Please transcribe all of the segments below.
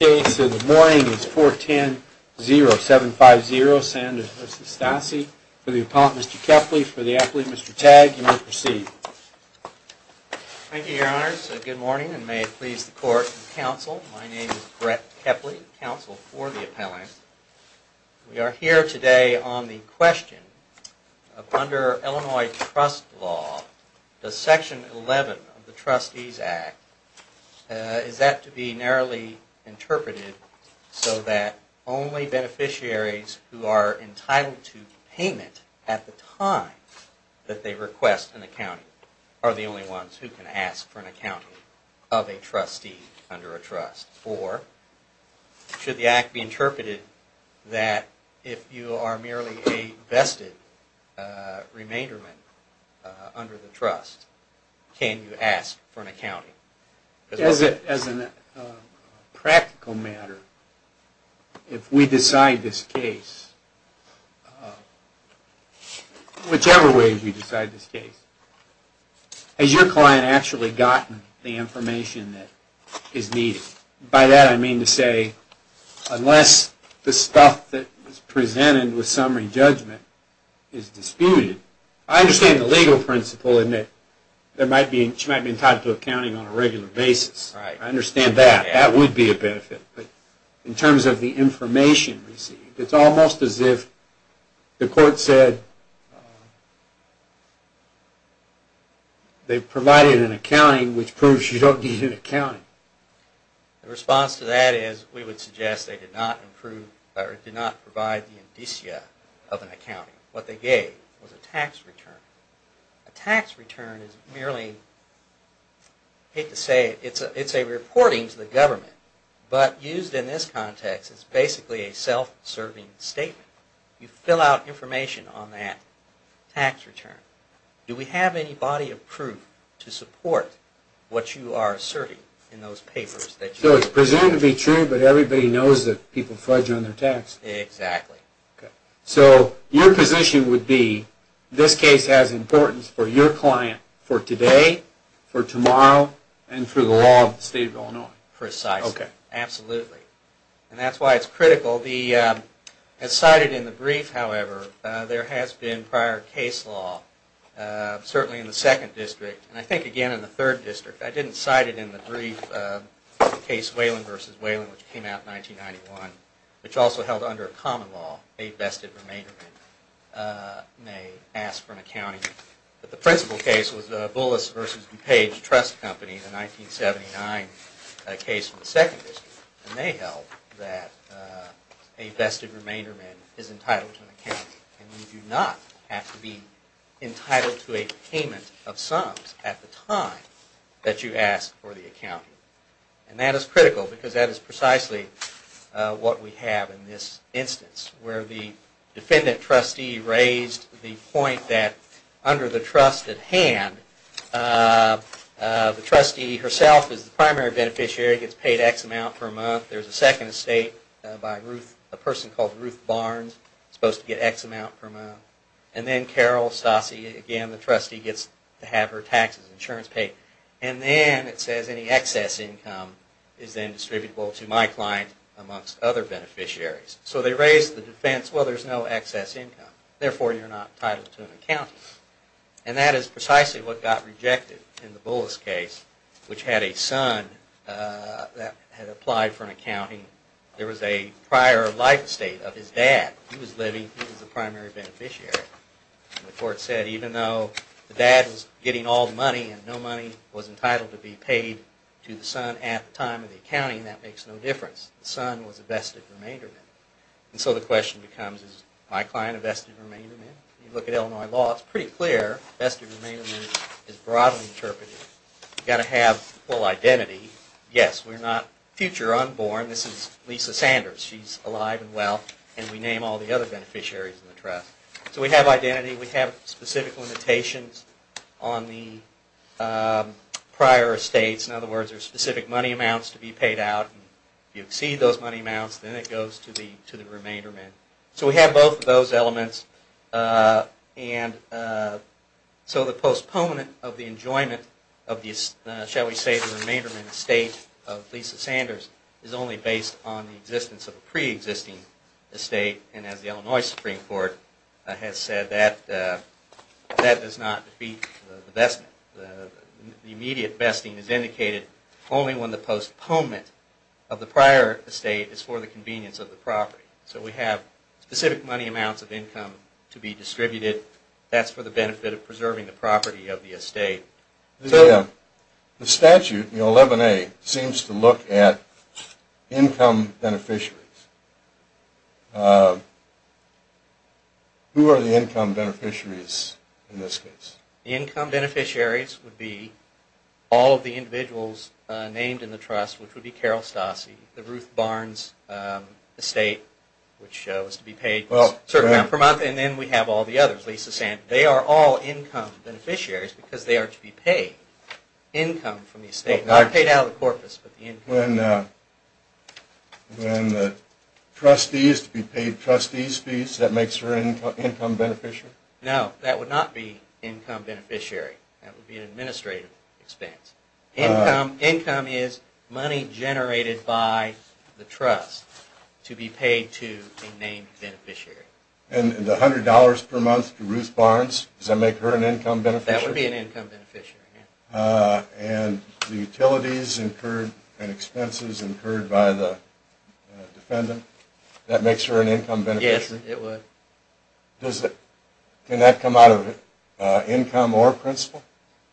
case of the morning is four ten zero seven five zero San Jose Stasi. For the appellant Mr. Kepley, for the appellant Mr. Tagg, you may proceed. Thank you, your honors. Good morning and may it please the court and counsel. My name is Brett Kepley, counsel for the appellant. We are here today on the question of under Illinois trust law, does section 11 of the Trustees Act, is that to be narrowly interpreted so that only beneficiaries who are entitled to payment at the time that they request an accounting are the only ones who can ask for an accounting of a trustee under a trust? Or should the act be interpreted that if you are merely a vested remainderment under the trust, can you ask for an accounting? As a practical matter, if we decide this case, whichever way we decide this case, has your client actually gotten the information that is needed? By that I mean to say, unless the stuff that is presented with summary judgment is disputed, I understand the legal principle in it, there might be, she might not get it on a regular basis. I understand that, that would be a benefit, but in terms of the information received, it's almost as if the court said they've provided an accounting which proves she don't need an accounting. The response to that is we would suggest they did not improve or did not provide the indicia of an accounting. It's a reporting to the government, but used in this context as basically a self-serving statement. You fill out information on that tax return. Do we have any body of proof to support what you are asserting in those papers? So it's presumed to be true, but everybody knows that people fudge on their tax return. Exactly. So your position would be, this case has importance for your tomorrow and for the law of the state of Illinois. Precisely, absolutely, and that's why it's critical. As cited in the brief, however, there has been prior case law, certainly in the second district, and I think again in the third district. I didn't cite it in the brief, the case Whalen v. Whalen, which came out in 1991, which also held under a common law, a vested remainder may ask for an accounting. The principal case was Bullis v. DuPage Trust Company, the 1979 case from the second district, and they held that a vested remainder is entitled to an accounting, and you do not have to be entitled to a payment of sums at the time that you ask for the accounting. And that is critical, because that is precisely what we have in this instance, where the trustee herself is the primary beneficiary, gets paid X amount per month, there's a second estate by a person called Ruth Barnes, supposed to get X amount per month, and then Carol Stassi, again the trustee gets to have her taxes and insurance paid, and then it says any excess income is then distributable to my client amongst other beneficiaries. So they raise the defense, well there's no excess income, therefore you're not entitled to an accounting. And that is precisely what got rejected in the Bullis case, which had a son that had applied for an accounting. There was a prior life state of his dad. He was living, he was the primary beneficiary. The court said even though the dad was getting all the money and no money was entitled to be paid to the son at the time of the accounting, that makes no difference. The son was a vested remainder. And so the question becomes, is my client a vested remainder? When you look at Illinois law, it's pretty clear, a vested remainder is broadly interpreted. You've got to have full identity. Yes, we're not future unborn, this is Lisa Sanders, she's alive and well, and we name all the other beneficiaries in the trust. So we have identity, we have specific limitations on the prior estates, in other words there's specific money amounts to be to the remainder. So we have both of those elements. And so the postponement of the enjoyment of the, shall we say, the remainder in the state of Lisa Sanders, is only based on the existence of a pre-existing estate. And as the Illinois Supreme Court has said, that does not be the best, the postponement of the prior estate is for the convenience of the property. So we have specific money amounts of income to be distributed, that's for the benefit of preserving the property of the estate. The statute, 11A, seems to look at income beneficiaries. Who are the income beneficiaries in this case? The income beneficiaries would be all of the individuals named in the trust, which would be Carol Stassi, the Ruth Barnes estate, which shows to be paid a certain amount per month, and then we have all the others, Lisa Sanders. They are all income beneficiaries because they are to be paid income from the estate. Not paid out of the corpus, but the income. When the trustee is to be paid trustee's fees, that makes her an income beneficiary? No, that would not be income beneficiary. That would be an administrative expense. Income is money generated by the trust to be paid to a named beneficiary. And the $100 per month to Ruth Barnes, does that make her an income beneficiary? That would be an income beneficiary, yes. And the utilities incurred and expenses incurred by the defendant, that makes her an income beneficiary? Yes, it would. Can that come out of income or principal?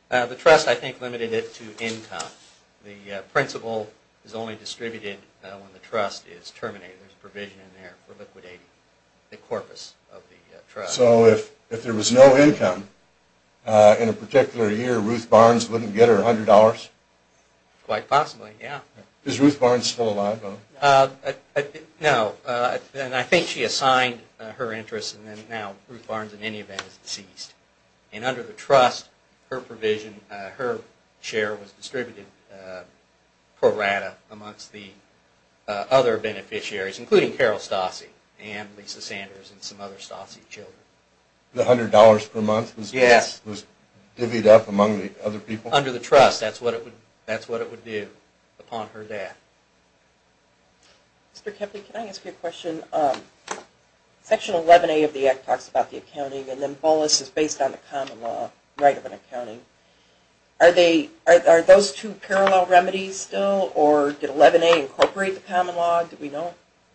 The trust, I think, limited it to income. The principal is only distributed when the trust is terminated. There is a provision in there for liquidating the corpus of the trust. So, if there was no income, in a particular year, Ruth Barnes wouldn't get her $100? Quite possibly, yes. Is Ruth Barnes still alive? No, and I think she assigned her interest and now Ruth Barnes, in any event, is deceased. And under the trust, her provision, her share was distributed pro rata amongst the other beneficiaries, including Carol Stassi and Lisa Sanders and some other Stassi children. The $100 per month was divvied up among the other people? Under the trust, that's what it would do upon her death. Mr. Kepley, can I ask you a question? Section 11A of the Act talks about the accounting and then BOLUS is based on the common law right of an accounting. Are those two parallel remedies still or did 11A incorporate the common law?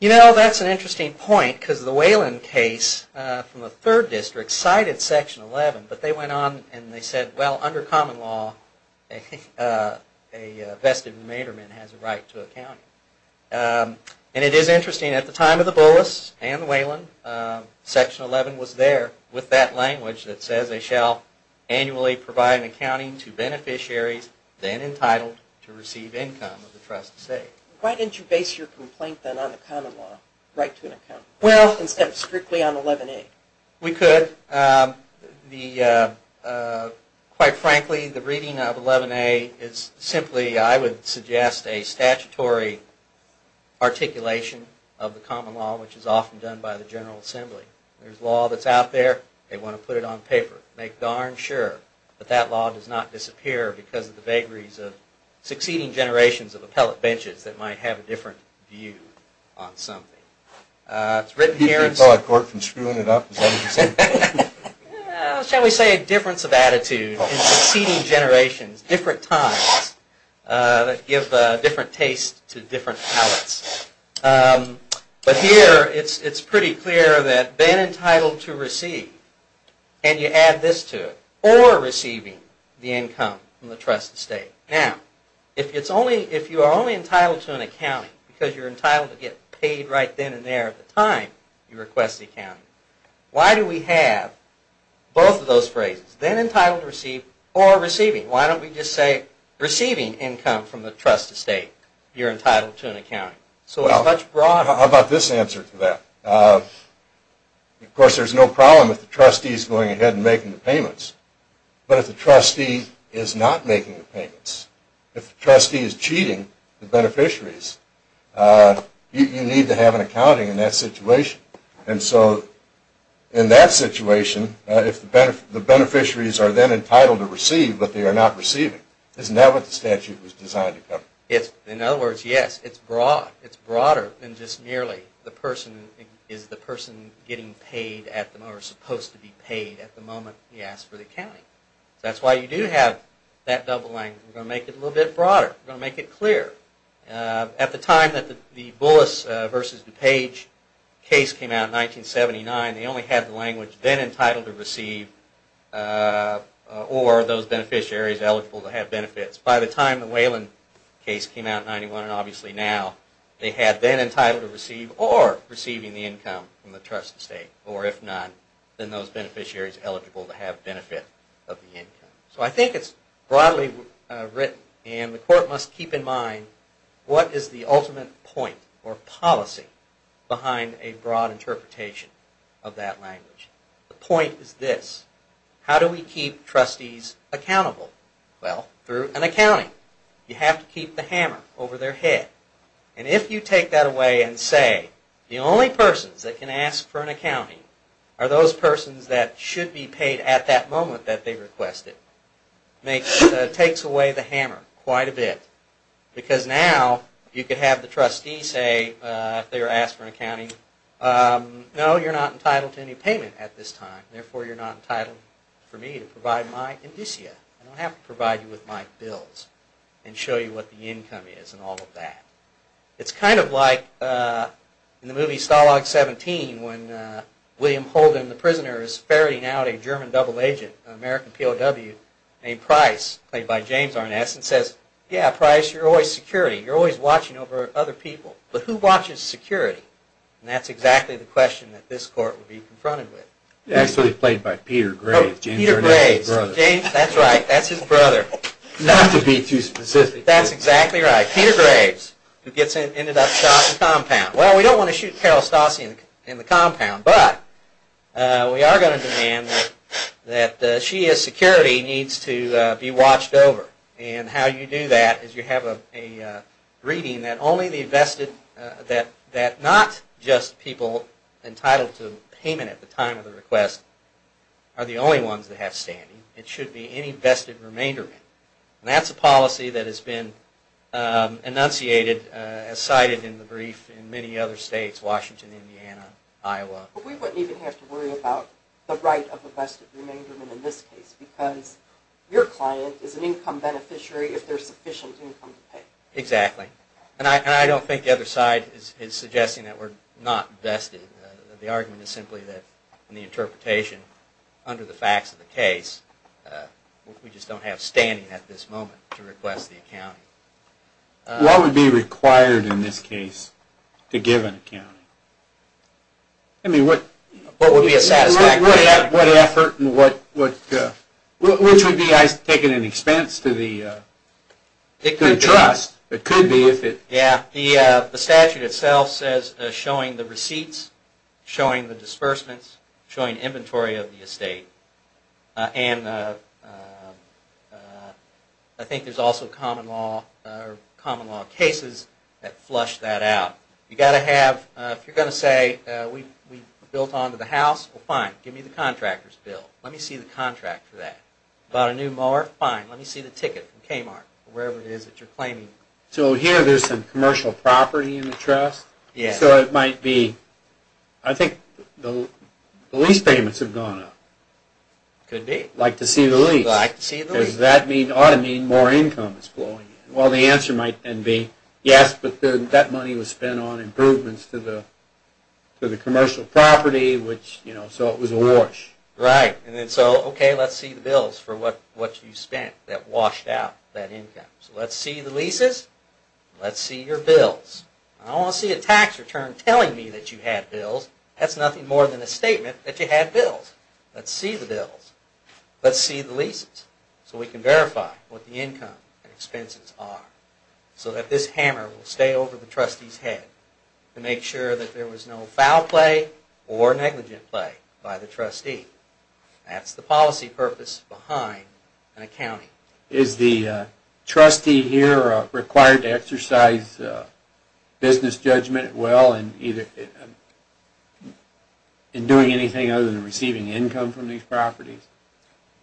You know, that's an interesting point, because the Whelan case from the 3rd District cited Section 11, but they went on and they said, well, under common law, a vested materman has a right to account. And it is interesting, at the time of the BOLUS and Whelan, Section 11 was there with that language that says they shall annually provide an accounting to beneficiaries then entitled to receive income of the trust estate. Why didn't you base your complaint then on the common law, right to an accounting, instead of strictly on 11A? We could. Quite frankly, the reading of 11A is simply, I would suggest, a statutory articulation of the common law, which is often done by the General Assembly. There's law that's out there, they want to put it on paper. Make darn sure that that law does not disappear because of the vagaries of succeeding generations of appellate benches that might have a different view on something. It's written here. You keep the appellate court from screwing it up, is that what you're saying? Shall we say a difference of attitude in succeeding generations, different times, that give different tastes to different appellates. But here, it's pretty clear that been entitled to receive, and you add this to it, or receiving the income from the trust estate. Now, if you are only entitled to an accounting because you're entitled to get paid right then and there at the time you request the accounting, why do we have both of those phrases? Then entitled to receive, or receiving. Why don't we just say receiving income from the trust estate, you're entitled to an accounting. How about this answer to that? Of course, there's no problem if the trustee is going ahead and making the payments. But if the trustee is not making the payments, if the trustee is cheating the beneficiaries, you need to have an accounting in that situation. And so, in that situation, if the beneficiaries are then entitled to receive, but they are not receiving, isn't that what the statute was designed to cover? In other words, yes. It's broad. It's broader than just merely is the person getting paid or supposed to be paid at the moment he asks for the accounting. That's why you do have that doubling. We're going to make it a little bit broader. We're going to make it clear. At the time that the Bullis v. DuPage case came out in 1979, they only had the language, then entitled to receive, or those beneficiaries eligible to have benefits. By the time the Whelan case came out in 1991, and obviously now, they had then entitled to receive, or receiving the income from the trust estate. Or if not, then those beneficiaries eligible to have benefit of the income. So I think it's broadly written, and the court must keep in mind what is the ultimate point or policy behind a broad interpretation of that language. The point is this. How do we keep trustees accountable? Well, through an accounting. You have to keep the hammer over their head. And if you take that away and say, the only persons that can ask for an accounting are those persons that should be paid at that moment that they requested, it takes away the hammer quite a bit. Because now, you could have the trustee say, if they were asked for an accounting, no, you're not entitled to any payment at this time, therefore you're not entitled for me to provide my indicia. I don't have to provide you with my bills and show you what the income is and all of that. It's kind of like in the movie Stalag 17, when William Holden, the prisoner, is ferrying out a German double agent, an American POW, named Price, played by James Arness, and says, yeah, Price, you're always security. You're always watching over other people. But who watches security? And that's exactly the question that this court would be confronted with. Actually, it's played by Peter Graves, James Arness's brother. That's right. That's his brother. Not to be too specific. That's exactly right. Peter Graves, who gets ended up shot in the compound. Well, we don't want to shoot Carol Stassi in the compound, but we are going to demand that she, as security, needs to be watched over. And how you do that is you have a reading that not just people entitled to payment at the time of the request are the only ones that have standing. It should be any vested remainder. And that's a policy that has been enunciated, as cited in the brief, in many other states, Washington, Indiana, Iowa. But we wouldn't even have to worry about the right of a vested remainder in this case, because your client is an income beneficiary if there's sufficient income to pay. Exactly. And I don't think the other side is suggesting that we're not vested. The argument is simply that, in the interpretation, under the facts of the case, we just don't have standing at this moment to request the accounting. What would be required in this case to give an accounting? I mean, what... What would be a satisfactory... What effort and what... Which would be, I take it, an expense to the trust? It could be. It could be if it... Yeah, the statute itself says showing the receipts, showing the disbursements, showing inventory of the estate. And I think there's also common law cases that flush that out. You've got to have... If you're going to say, we built onto the house, well, fine, give me the contractor's bill. Let me see the contract for that. Bought a new mower? Fine, let me see the ticket from Kmart, or wherever it is that you're claiming. So here there's some commercial property in the trust? Yeah. So it might be... I think the lease payments have gone up. Could be. Like to see the lease. Like to see the lease. Because that ought to mean more income is flowing in. Well, the answer might then be, yes, but that money was spent on improvements to the commercial property, which, you know, so it was a wash. Right. And then so, okay, let's see the bills for what you spent that washed out that income. So let's see the leases. Let's see your bills. I don't want to see a tax return telling me that you had bills. That's nothing more than a statement that you had bills. Let's see the bills. Let's see the leases. So we can verify what the income and expenses are, so that this hammer will stay over the trustee's head to make sure that there was no foul play or negligent play by the trustee. That's the policy purpose behind an accounting. Is the trustee here required to exercise business judgment in doing anything other than receiving income from these properties?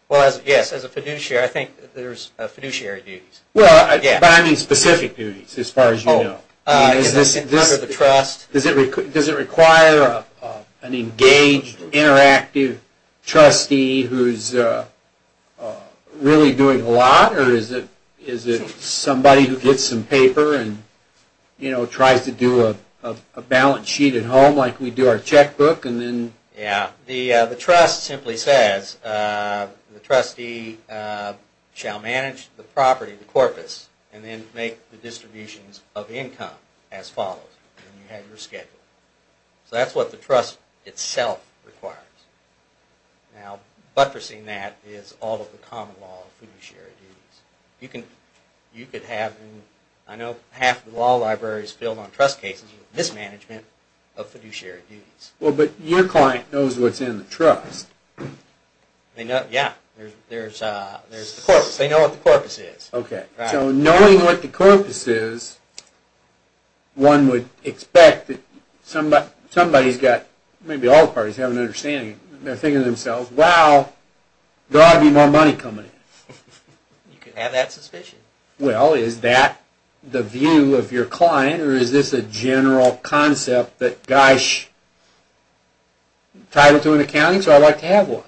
Well, yes, as a fiduciary, I think there's fiduciary duties. Well, but I mean specific duties as far as you know. Under the trust. Does it require an engaged, interactive trustee who's really doing a lot or is it somebody who gets some paper and, you know, tries to do a balance sheet at home like we do our checkbook and then... Yeah, the trust simply says the trustee shall manage the property, the corpus, and then make the distributions of income as follows. And you have your schedule. So that's what the trust itself requires. Now, buttressing that is all of the common law of fiduciary duties. You could have, I know half the law library is filled on trust cases with mismanagement of fiduciary duties. Well, but your client knows what's in the trust. They know, yeah, there's the corpus. They know what the corpus is. So knowing what the corpus is, one would expect that somebody's got, maybe all parties have an understanding. They're thinking to themselves, wow, there ought to be more money coming in. You can have that suspicion. Well, is that the view of your client or is this a general concept that, gosh, entitled to an accounting, so I'd like to have one?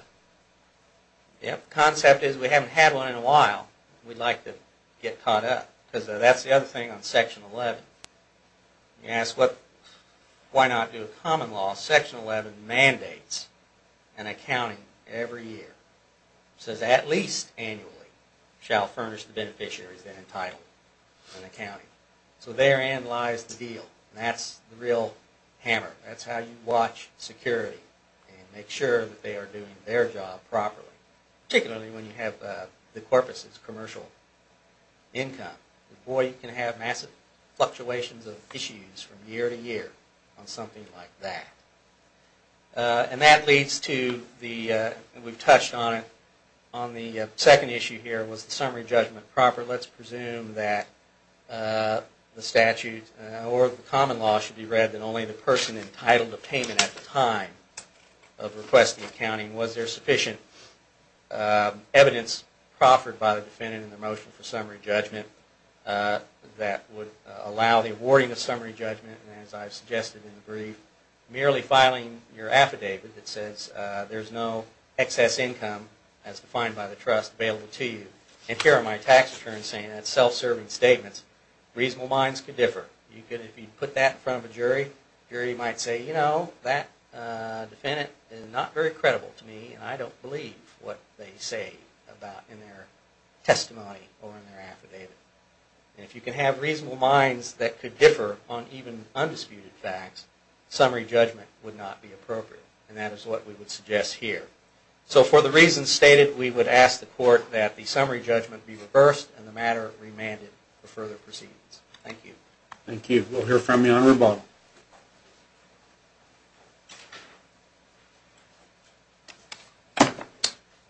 Yep, the concept is we haven't had one in a while. We'd like to get caught up. Because that's the other thing on Section 11. You ask why not do a common law. Section 11 mandates an accounting every year. It says at least annually shall furnish the beneficiaries that are entitled to an accounting. So therein lies the deal. That's the real hammer. That's how you watch security and make sure that they are doing their job properly. Particularly when you have the corpus as commercial income. Boy, you can have massive fluctuations of issues from year to year on something like that. And that leads to the, we've touched on it, on the second issue here was the summary judgment proper. Let's presume that the statute or the common law should be read that only the person entitled to payment at the time of requesting accounting. Was there sufficient evidence proffered by the defendant in the motion for summary judgment that would allow the awarding of summary judgment and as I've suggested in the brief, merely filing your affidavit that says there's no excess income, as defined by the trust, available to you. And here are my tax returns saying that's self-serving statements. Reasonable minds could differ. If you put that in front of a jury, the jury might say, you know, that defendant is not very credible to me and I don't believe what they say about in their testimony or in their affidavit. And if you can have reasonable minds that could differ on even undisputed facts, summary judgment would not be appropriate. And that is what we would suggest here. So for the reasons stated, we would ask the court that the summary judgment be reversed and the matter remanded for further proceedings. Thank you. Thank you. We'll hear from you on rebuttal.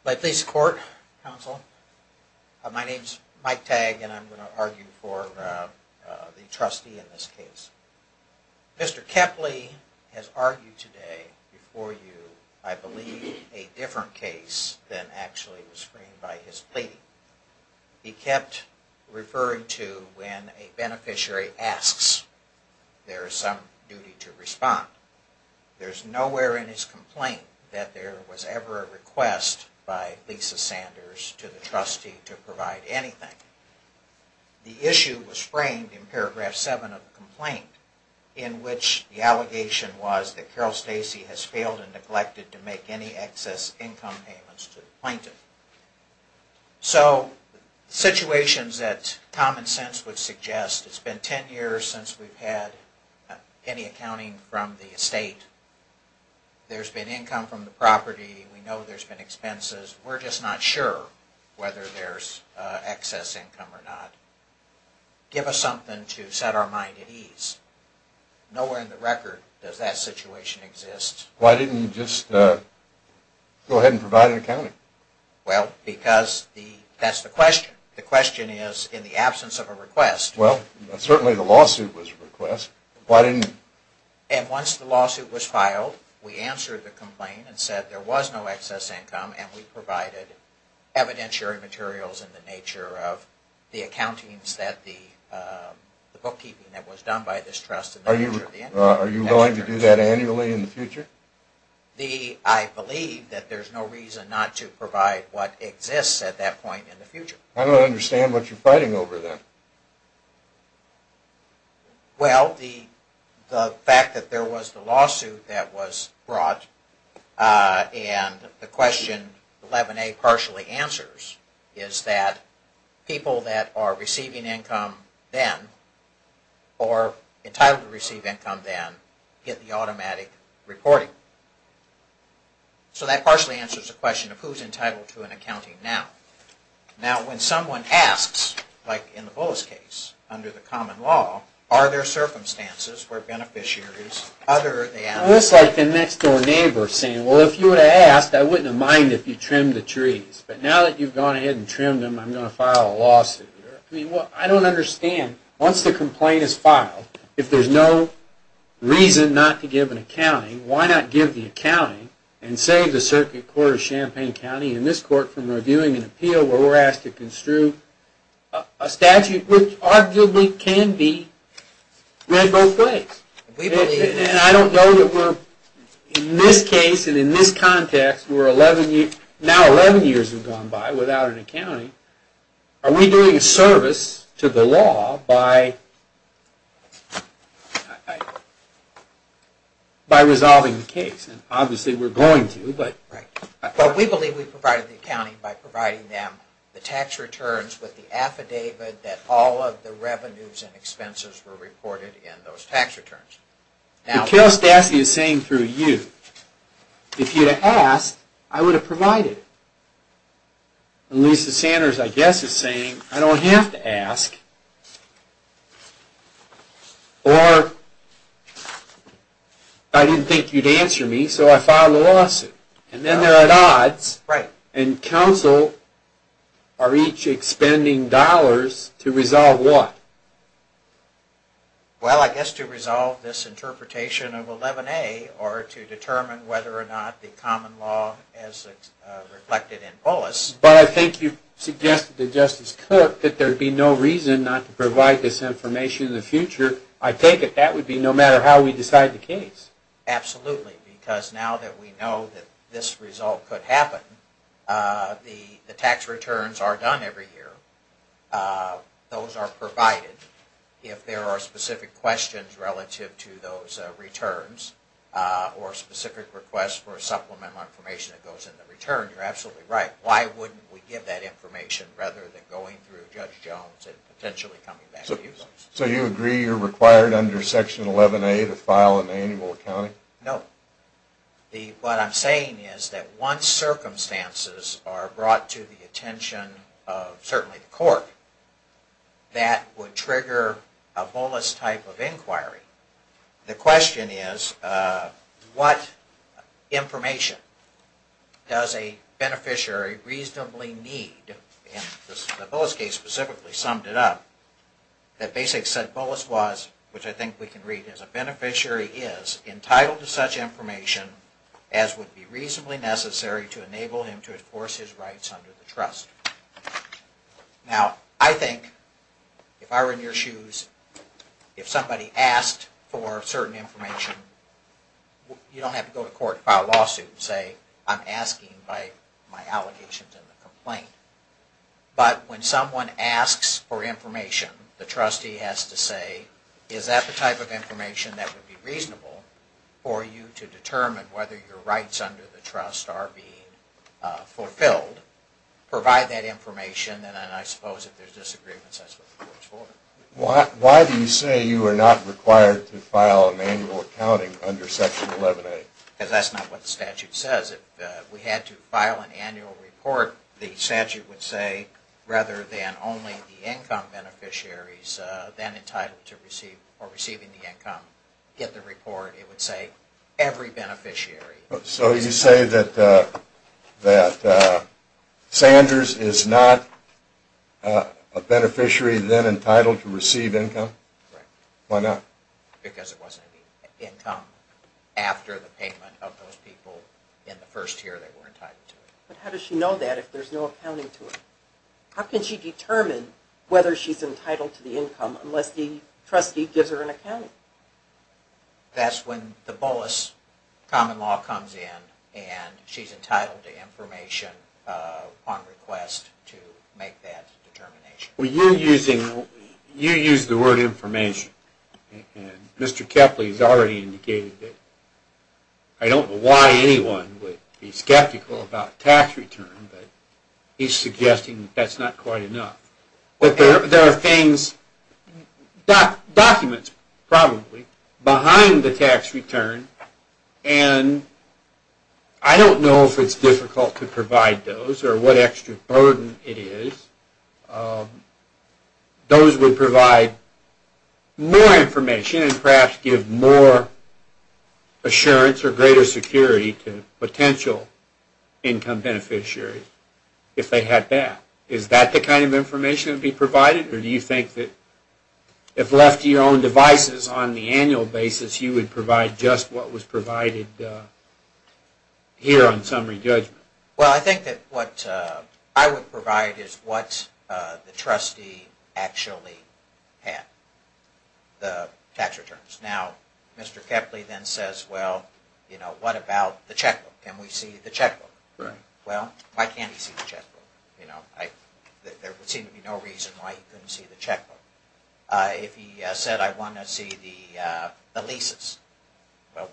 My police court counsel, my name's Mike Tagg and I'm going to argue for the trustee in this case. Mr. Kepley has argued today before you, I believe, a different case than actually was framed by his plea. He kept referring to when a beneficiary asks, there is some duty to respond. There's nowhere in his complaint that there was ever a request by Lisa Sanders to the trustee to provide anything. The issue was framed in paragraph 7 of the complaint in which the allegation was that Carol Stacey has failed and neglected to make any excess income payments to the plaintiff. So situations that common sense would suggest it's been 10 years since we've had any accounting from the estate. There's been income from the property. We know there's been expenses. We're just not sure whether there's excess income or not. Give us something to set our mind at ease. Nowhere in the record does that situation exist. Why didn't you just go ahead and provide an accounting? Well, because that's the question. The question is, in the absence of a request. Well, certainly the lawsuit was a request. And once the lawsuit was filed, we answered the complaint and said there was no excess income and we provided evidentiary materials in the nature of the accountings that the bookkeeping that was done by this Are you willing to do that annually in the future? I believe that there's no reason not to provide what exists at that point in the future. I don't understand what you're fighting over then. Well, the fact that there was the lawsuit that was brought and the question 11A partially answers is that people that are receiving income then or entitled to receive income then, get the automatic reporting. So that partially answers the question of who's entitled to an accounting now. Now, when someone asks, like in the Bullis case under the common law, are there circumstances where beneficiaries other than... Well, it's like the next door neighbor saying, well, if you would have asked, I wouldn't have minded if you trimmed the trees. But now that you've gone ahead and trimmed them, I'm going to file a lawsuit. I mean, I don't understand once the complaint is filed, if there's no reason not to give an accounting, why not give the accounting and save the Circuit Court of Champaign County and this Court from reviewing an appeal where we're asked to construe a statute which arguably can be read both ways. And I don't know that we're in this case and in this context where now 11 years have gone by without an accounting, are we doing a service to the law by resolving the case? And obviously we're going to, but... We believe we provided the accounting by providing them the tax returns with the affidavit that all of the revenues and expenses were reported in those tax returns. But Carol Stassi is saying through you if you'd have asked I would have provided. And Lisa Sanders I guess is saying I don't have to ask or I didn't think you'd answer me so I filed a lawsuit. And then they're at odds and counsel are each expending dollars to resolve what? Well, I guess to resolve this interpretation of 11A or to determine whether or not the common law as reflected in Polis But I think you've suggested to Justice Cook that there'd be no reason not to provide this information in the future. I take it that would be no matter how we decide the case. Absolutely, because now that we know that this result could happen the tax returns are done every year. Those are provided if there are specific questions relative to those returns or specific requests for supplemental information that goes in the return. You're absolutely right. Why wouldn't we give that information rather than going through Judge Jones and potentially coming back to you folks? So you agree you're required under Section 11A to file an annual accounting? No. What I'm saying is that once circumstances are brought to the attention of certainly the court that would trigger a Polis type of inquiry the question is what information does a beneficiary reasonably need and the Polis case specifically summed it up that basically said Polis was which I think we can read as a beneficiary is entitled to such information as would be reasonably necessary to enable him to enforce his rights under the trust. Now I think if I were in your shoes if somebody asked for certain information you don't have to go to court and file a lawsuit and say I'm asking by my allegations in the complaint but when someone asks for information the trustee has to say is that the type of information that would be reasonable for you to determine whether your rights under the trust are being fulfilled provide that information and then I suppose if there's disagreements that's what the court is for. Why do you say you are not required to file an annual accounting under section 11A? Because that's not what the statute says if we had to file an annual report the statute would say rather than only the income beneficiaries then entitled to receive or receiving the income get the report it would say every beneficiary So you say that Sanders is not a beneficiary then entitled to receive income? Why not? Because it wasn't the income after the payment of those people in the first year they were entitled to it. But how does she know that if there's no accounting to it? How can she determine whether she's entitled to the income unless the trustee gives her an accounting? That's when the Bullis common law comes in and she's entitled to information on request to make that determination. You use the word information Mr. Kepley has already indicated I don't know why anyone would be skeptical about tax return but he's suggesting that's not quite enough There are things documents probably behind the tax return and I don't know if it's difficult to provide those or what extra burden it is those would provide more information and perhaps give more assurance or greater security to potential income beneficiaries if they had that Is that the kind of information that would be provided or do you think that if left to your own devices on the annual basis you would provide just what was provided here on summary judgment? I think that what I would provide is what the trustee actually had the tax returns Mr. Kepley then says what about the checkbook? Can we see the checkbook? Why can't he see the checkbook? There would seem to be no reason why he couldn't see the checkbook If he said I want to see the leases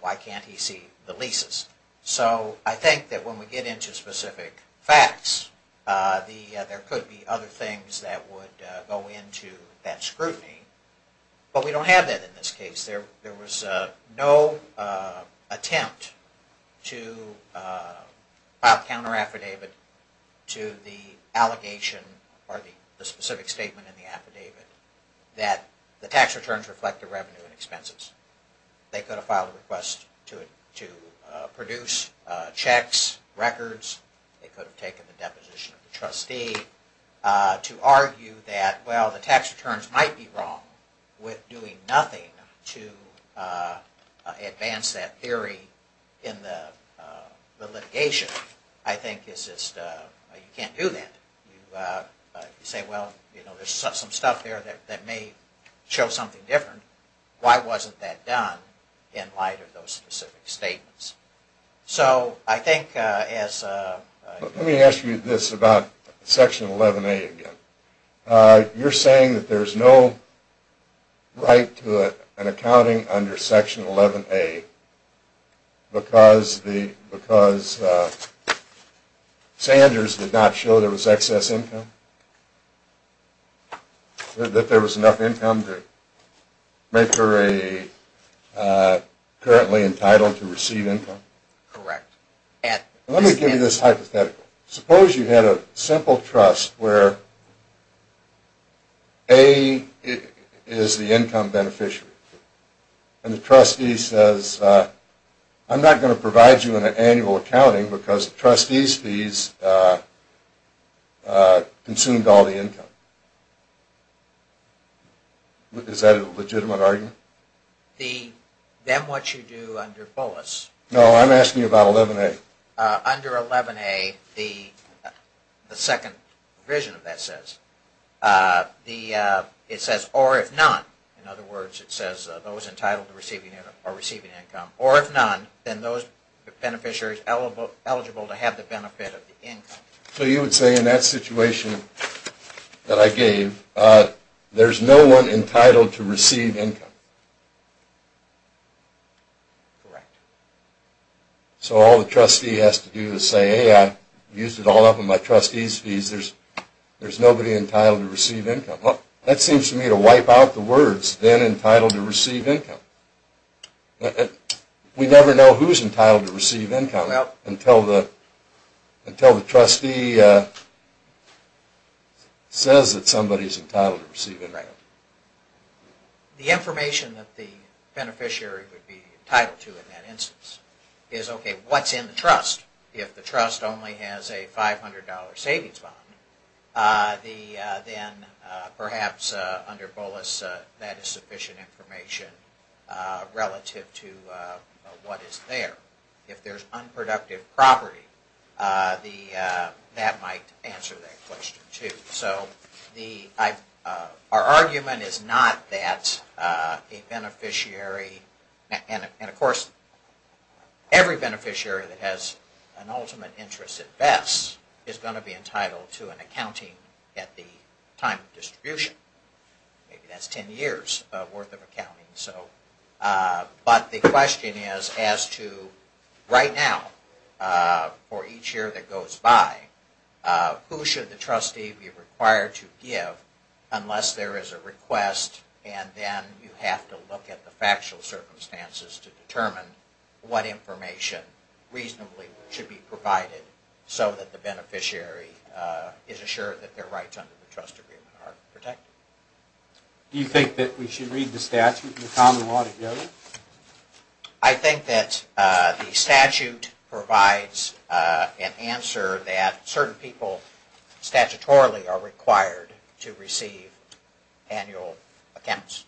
Why can't he see the leases? So I think that when we get into specific facts there could be other things that would go into that scrutiny but we don't have that in this case There was no attempt to file counter affidavit to the allegation or the specific statement in the affidavit that the tax returns reflect the revenue and expenses. They could have filed a request to produce checks records. They could have taken the deposition of the trustee to argue that well the tax returns might be wrong with doing nothing to advance that theory in the litigation. I think it's just you can't do that You say well there's some stuff there that may show something different Why wasn't that done in light of those specific statements? So I think Let me ask you this about section 11a again. You're saying that there's no right to an accounting under section 11a because Sanders did not show there was any excess income? That there was enough income to make her a currently entitled to receive income? Correct. Let me give you this hypothetical. Suppose you had a simple trust where A is the income beneficiary and the trustee says I'm not going to provide you an annual accounting because the trustee's fees consumed all the income. Is that a legitimate argument? Then what you do under BOLUS No, I'm asking you about 11a Under 11a the second provision of that says it says or if none those entitled to receiving income or if none then those beneficiaries eligible to have the benefit of the income. So you would say in that situation that I gave there's no one entitled to receive income? Correct. So all the trustee has to do is say I used it all up on my trustee's fees. There's nobody entitled to receive income. That seems to me to wipe out the words entitled to receive income. We never know who's entitled to receive income until the trustee says that somebody's entitled to receive income. The information that the beneficiary would be entitled to in that instance is okay, what's in the trust? If the trust only has a $500 savings bond then perhaps under BOLUS that is sufficient information relative to what is there. If there's unproductive property that might answer that question too. Our argument is not that a beneficiary and of course every beneficiary that has an ultimate interest at best is going to be entitled to an accounting at the time of distribution. Maybe that's ten years worth of accounting. But the question is as to right now for each year that goes by, who should the trustee be required to give unless there is a request and then you have to look at the factual circumstances to determine what information reasonably should be provided so that the beneficiary is assured that their rights under the trust agreement are protected. Do you think that we should read the statute and the common law together? I think that the statute provides an answer that certain people statutorily are required to receive annual accounts.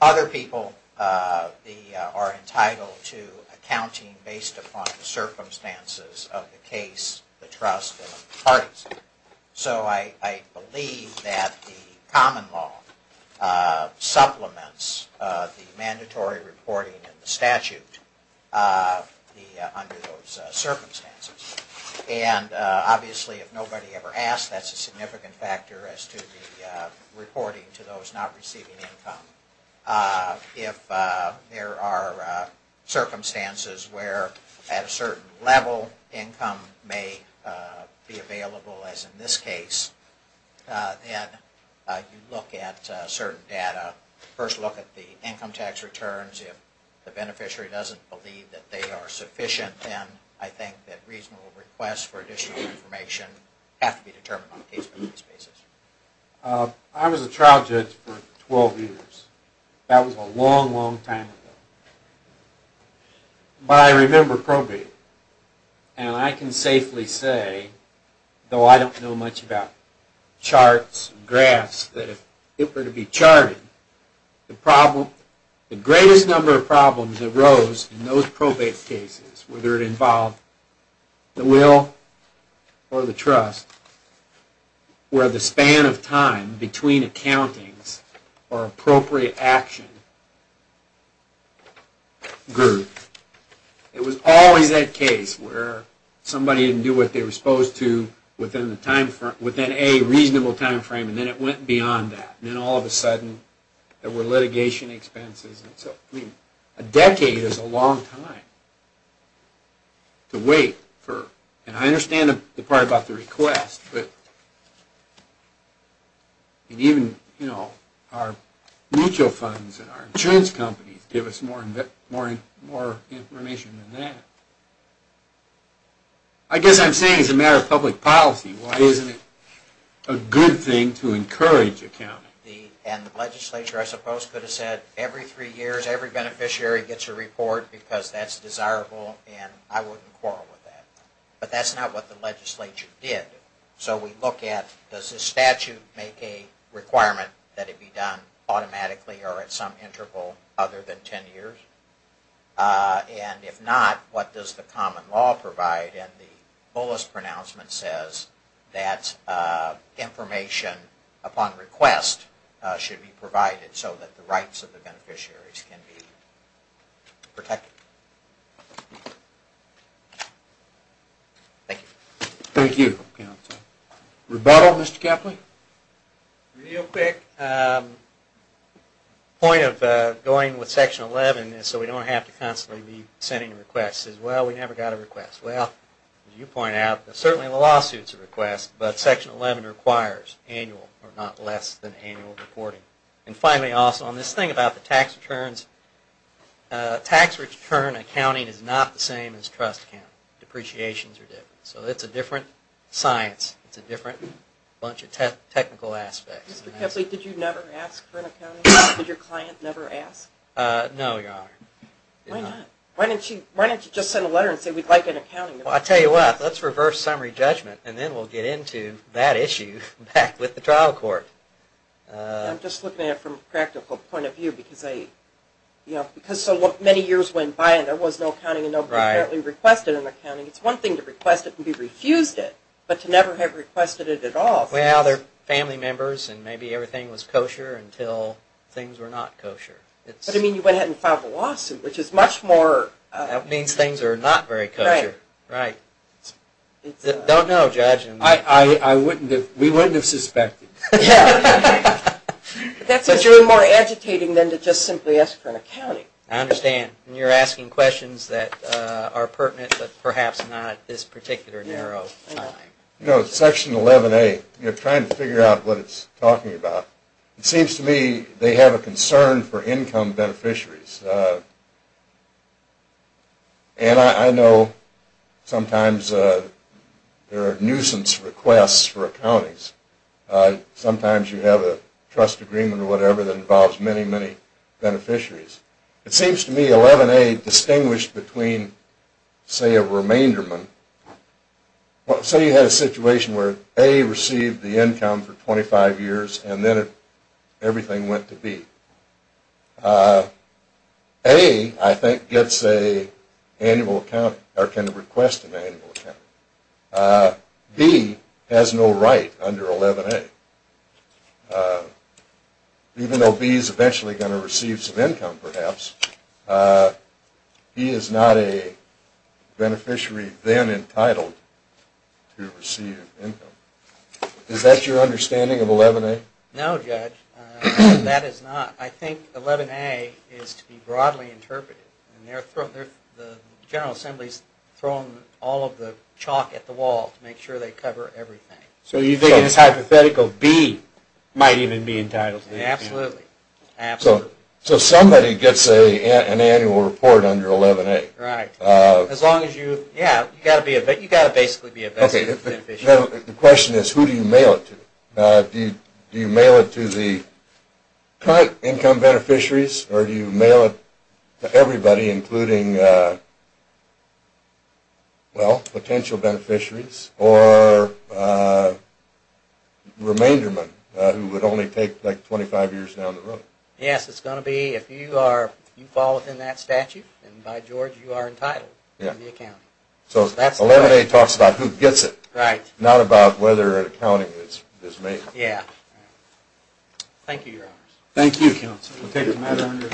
Other people are entitled to accounting based upon the circumstances of the case, the trust, the parties. So I believe that the common law supplements the mandatory reporting in the statute under those circumstances. And obviously if nobody ever asks, that's a significant factor as to the reporting to those not receiving income. If there are circumstances where at a certain level income may be available as in this case and you look at certain data first look at the income tax returns if the beneficiary doesn't believe that they are sufficient then I think that reasonable requests for additional information have to be determined on a case-by-case basis. I was a trial judge for 12 years. That was a long, long time ago. But I remember probate. And I can safely say, though I don't know much about charts and graphs, that if it were to be charted the greatest number of problems arose in those probate cases, whether it involved the will or the trust were the span of time between accountings or appropriate action group. It was always that case where somebody didn't do what they were supposed to within a reasonable time frame and then it went beyond that. Then all of a sudden there were litigation expenses. A decade is a long time to wait for, and I understand the part about the request, but even our mutual funds and our insurance companies give us more information than that. I guess I'm saying it's a matter of public policy. Why isn't it a good thing to encourage accounting? And the legislature, I suppose, could have said every three years every beneficiary gets a report because that's desirable and I wouldn't quarrel with that. But that's not what the legislature did. So we look at does the statute make a requirement that it be done automatically or at some interval other than ten years? And if not, what does the common law provide? And the fullest pronouncement says that information upon request should be provided so that the rights of the beneficiaries can be protected. Thank you. Thank you. Rebuttal, Mr. Kepley? Real quick. The point of going with Section 11 so we don't have to constantly be sending requests is, well, we never got a request. Well, as you point out, certainly lawsuits are requests, but Section 11 requires annual or not less than annual reporting. And finally also on this thing about the tax returns, tax return accounting is not the same as trust accounting. Depreciations are different. So it's a different science. It's a different bunch of technical aspects. Mr. Kepley, did you never ask for an accounting? Did your client never ask? No, Your Honor. Why not? Why don't you just send a letter and say we'd like an accounting? Well, I'll tell you what. Let's reverse summary judgment and then we'll get into that issue back with the trial court. I'm just looking at it from a practical point of view because I you know, because so many years went by and there was no accounting and nobody requested an accounting. It's one thing to request it and be refused it, but to never have requested it at all. Well, they're family members and maybe everything was kosher until things were not kosher. But I mean, you went ahead and filed a lawsuit which is much more... That means things are not very kosher. Right. Don't know, Judge. I wouldn't have... We wouldn't have suspected. That's what you're more agitating than to just simply ask for an accounting. I understand. You're asking questions that are pertinent but perhaps not at this particular narrow time. You know, Section 11A, you're trying to figure out what it's talking about. It seems to me they have a concern for income beneficiaries. And I know sometimes there are nuisance requests for accountings. Sometimes you have a trust agreement or whatever that involves many, many beneficiaries. It seems to me 11A distinguished between say, a remainderment. Say you had a situation where A received the income for 25 years and then everything went to B. A, I think, gets a annual account or can request an annual account. B has no right under 11A. Even though B is eventually going to receive some income perhaps, he is not a beneficiary then entitled to receive income. Is that your understanding of 11A? No, Judge. That is not. I think 11A is to be broadly interpreted. The General Assembly has thrown all of the chalk at the wall to make sure they cover everything. So you think it's hypothetical B might even be entitled to the income? Absolutely. So somebody gets an annual report under 11A. You have to basically be a beneficiary. The question is who do you mail it to? Do you mail it to the current income beneficiaries or do you mail it to everybody including potential beneficiaries or remainderment who would only take 25 years down the road? Yes, it's going to be if you fall within that statute then by George you are entitled to the account. So 11A talks about who gets it not about whether accounting is made. Thank you, Your Honors.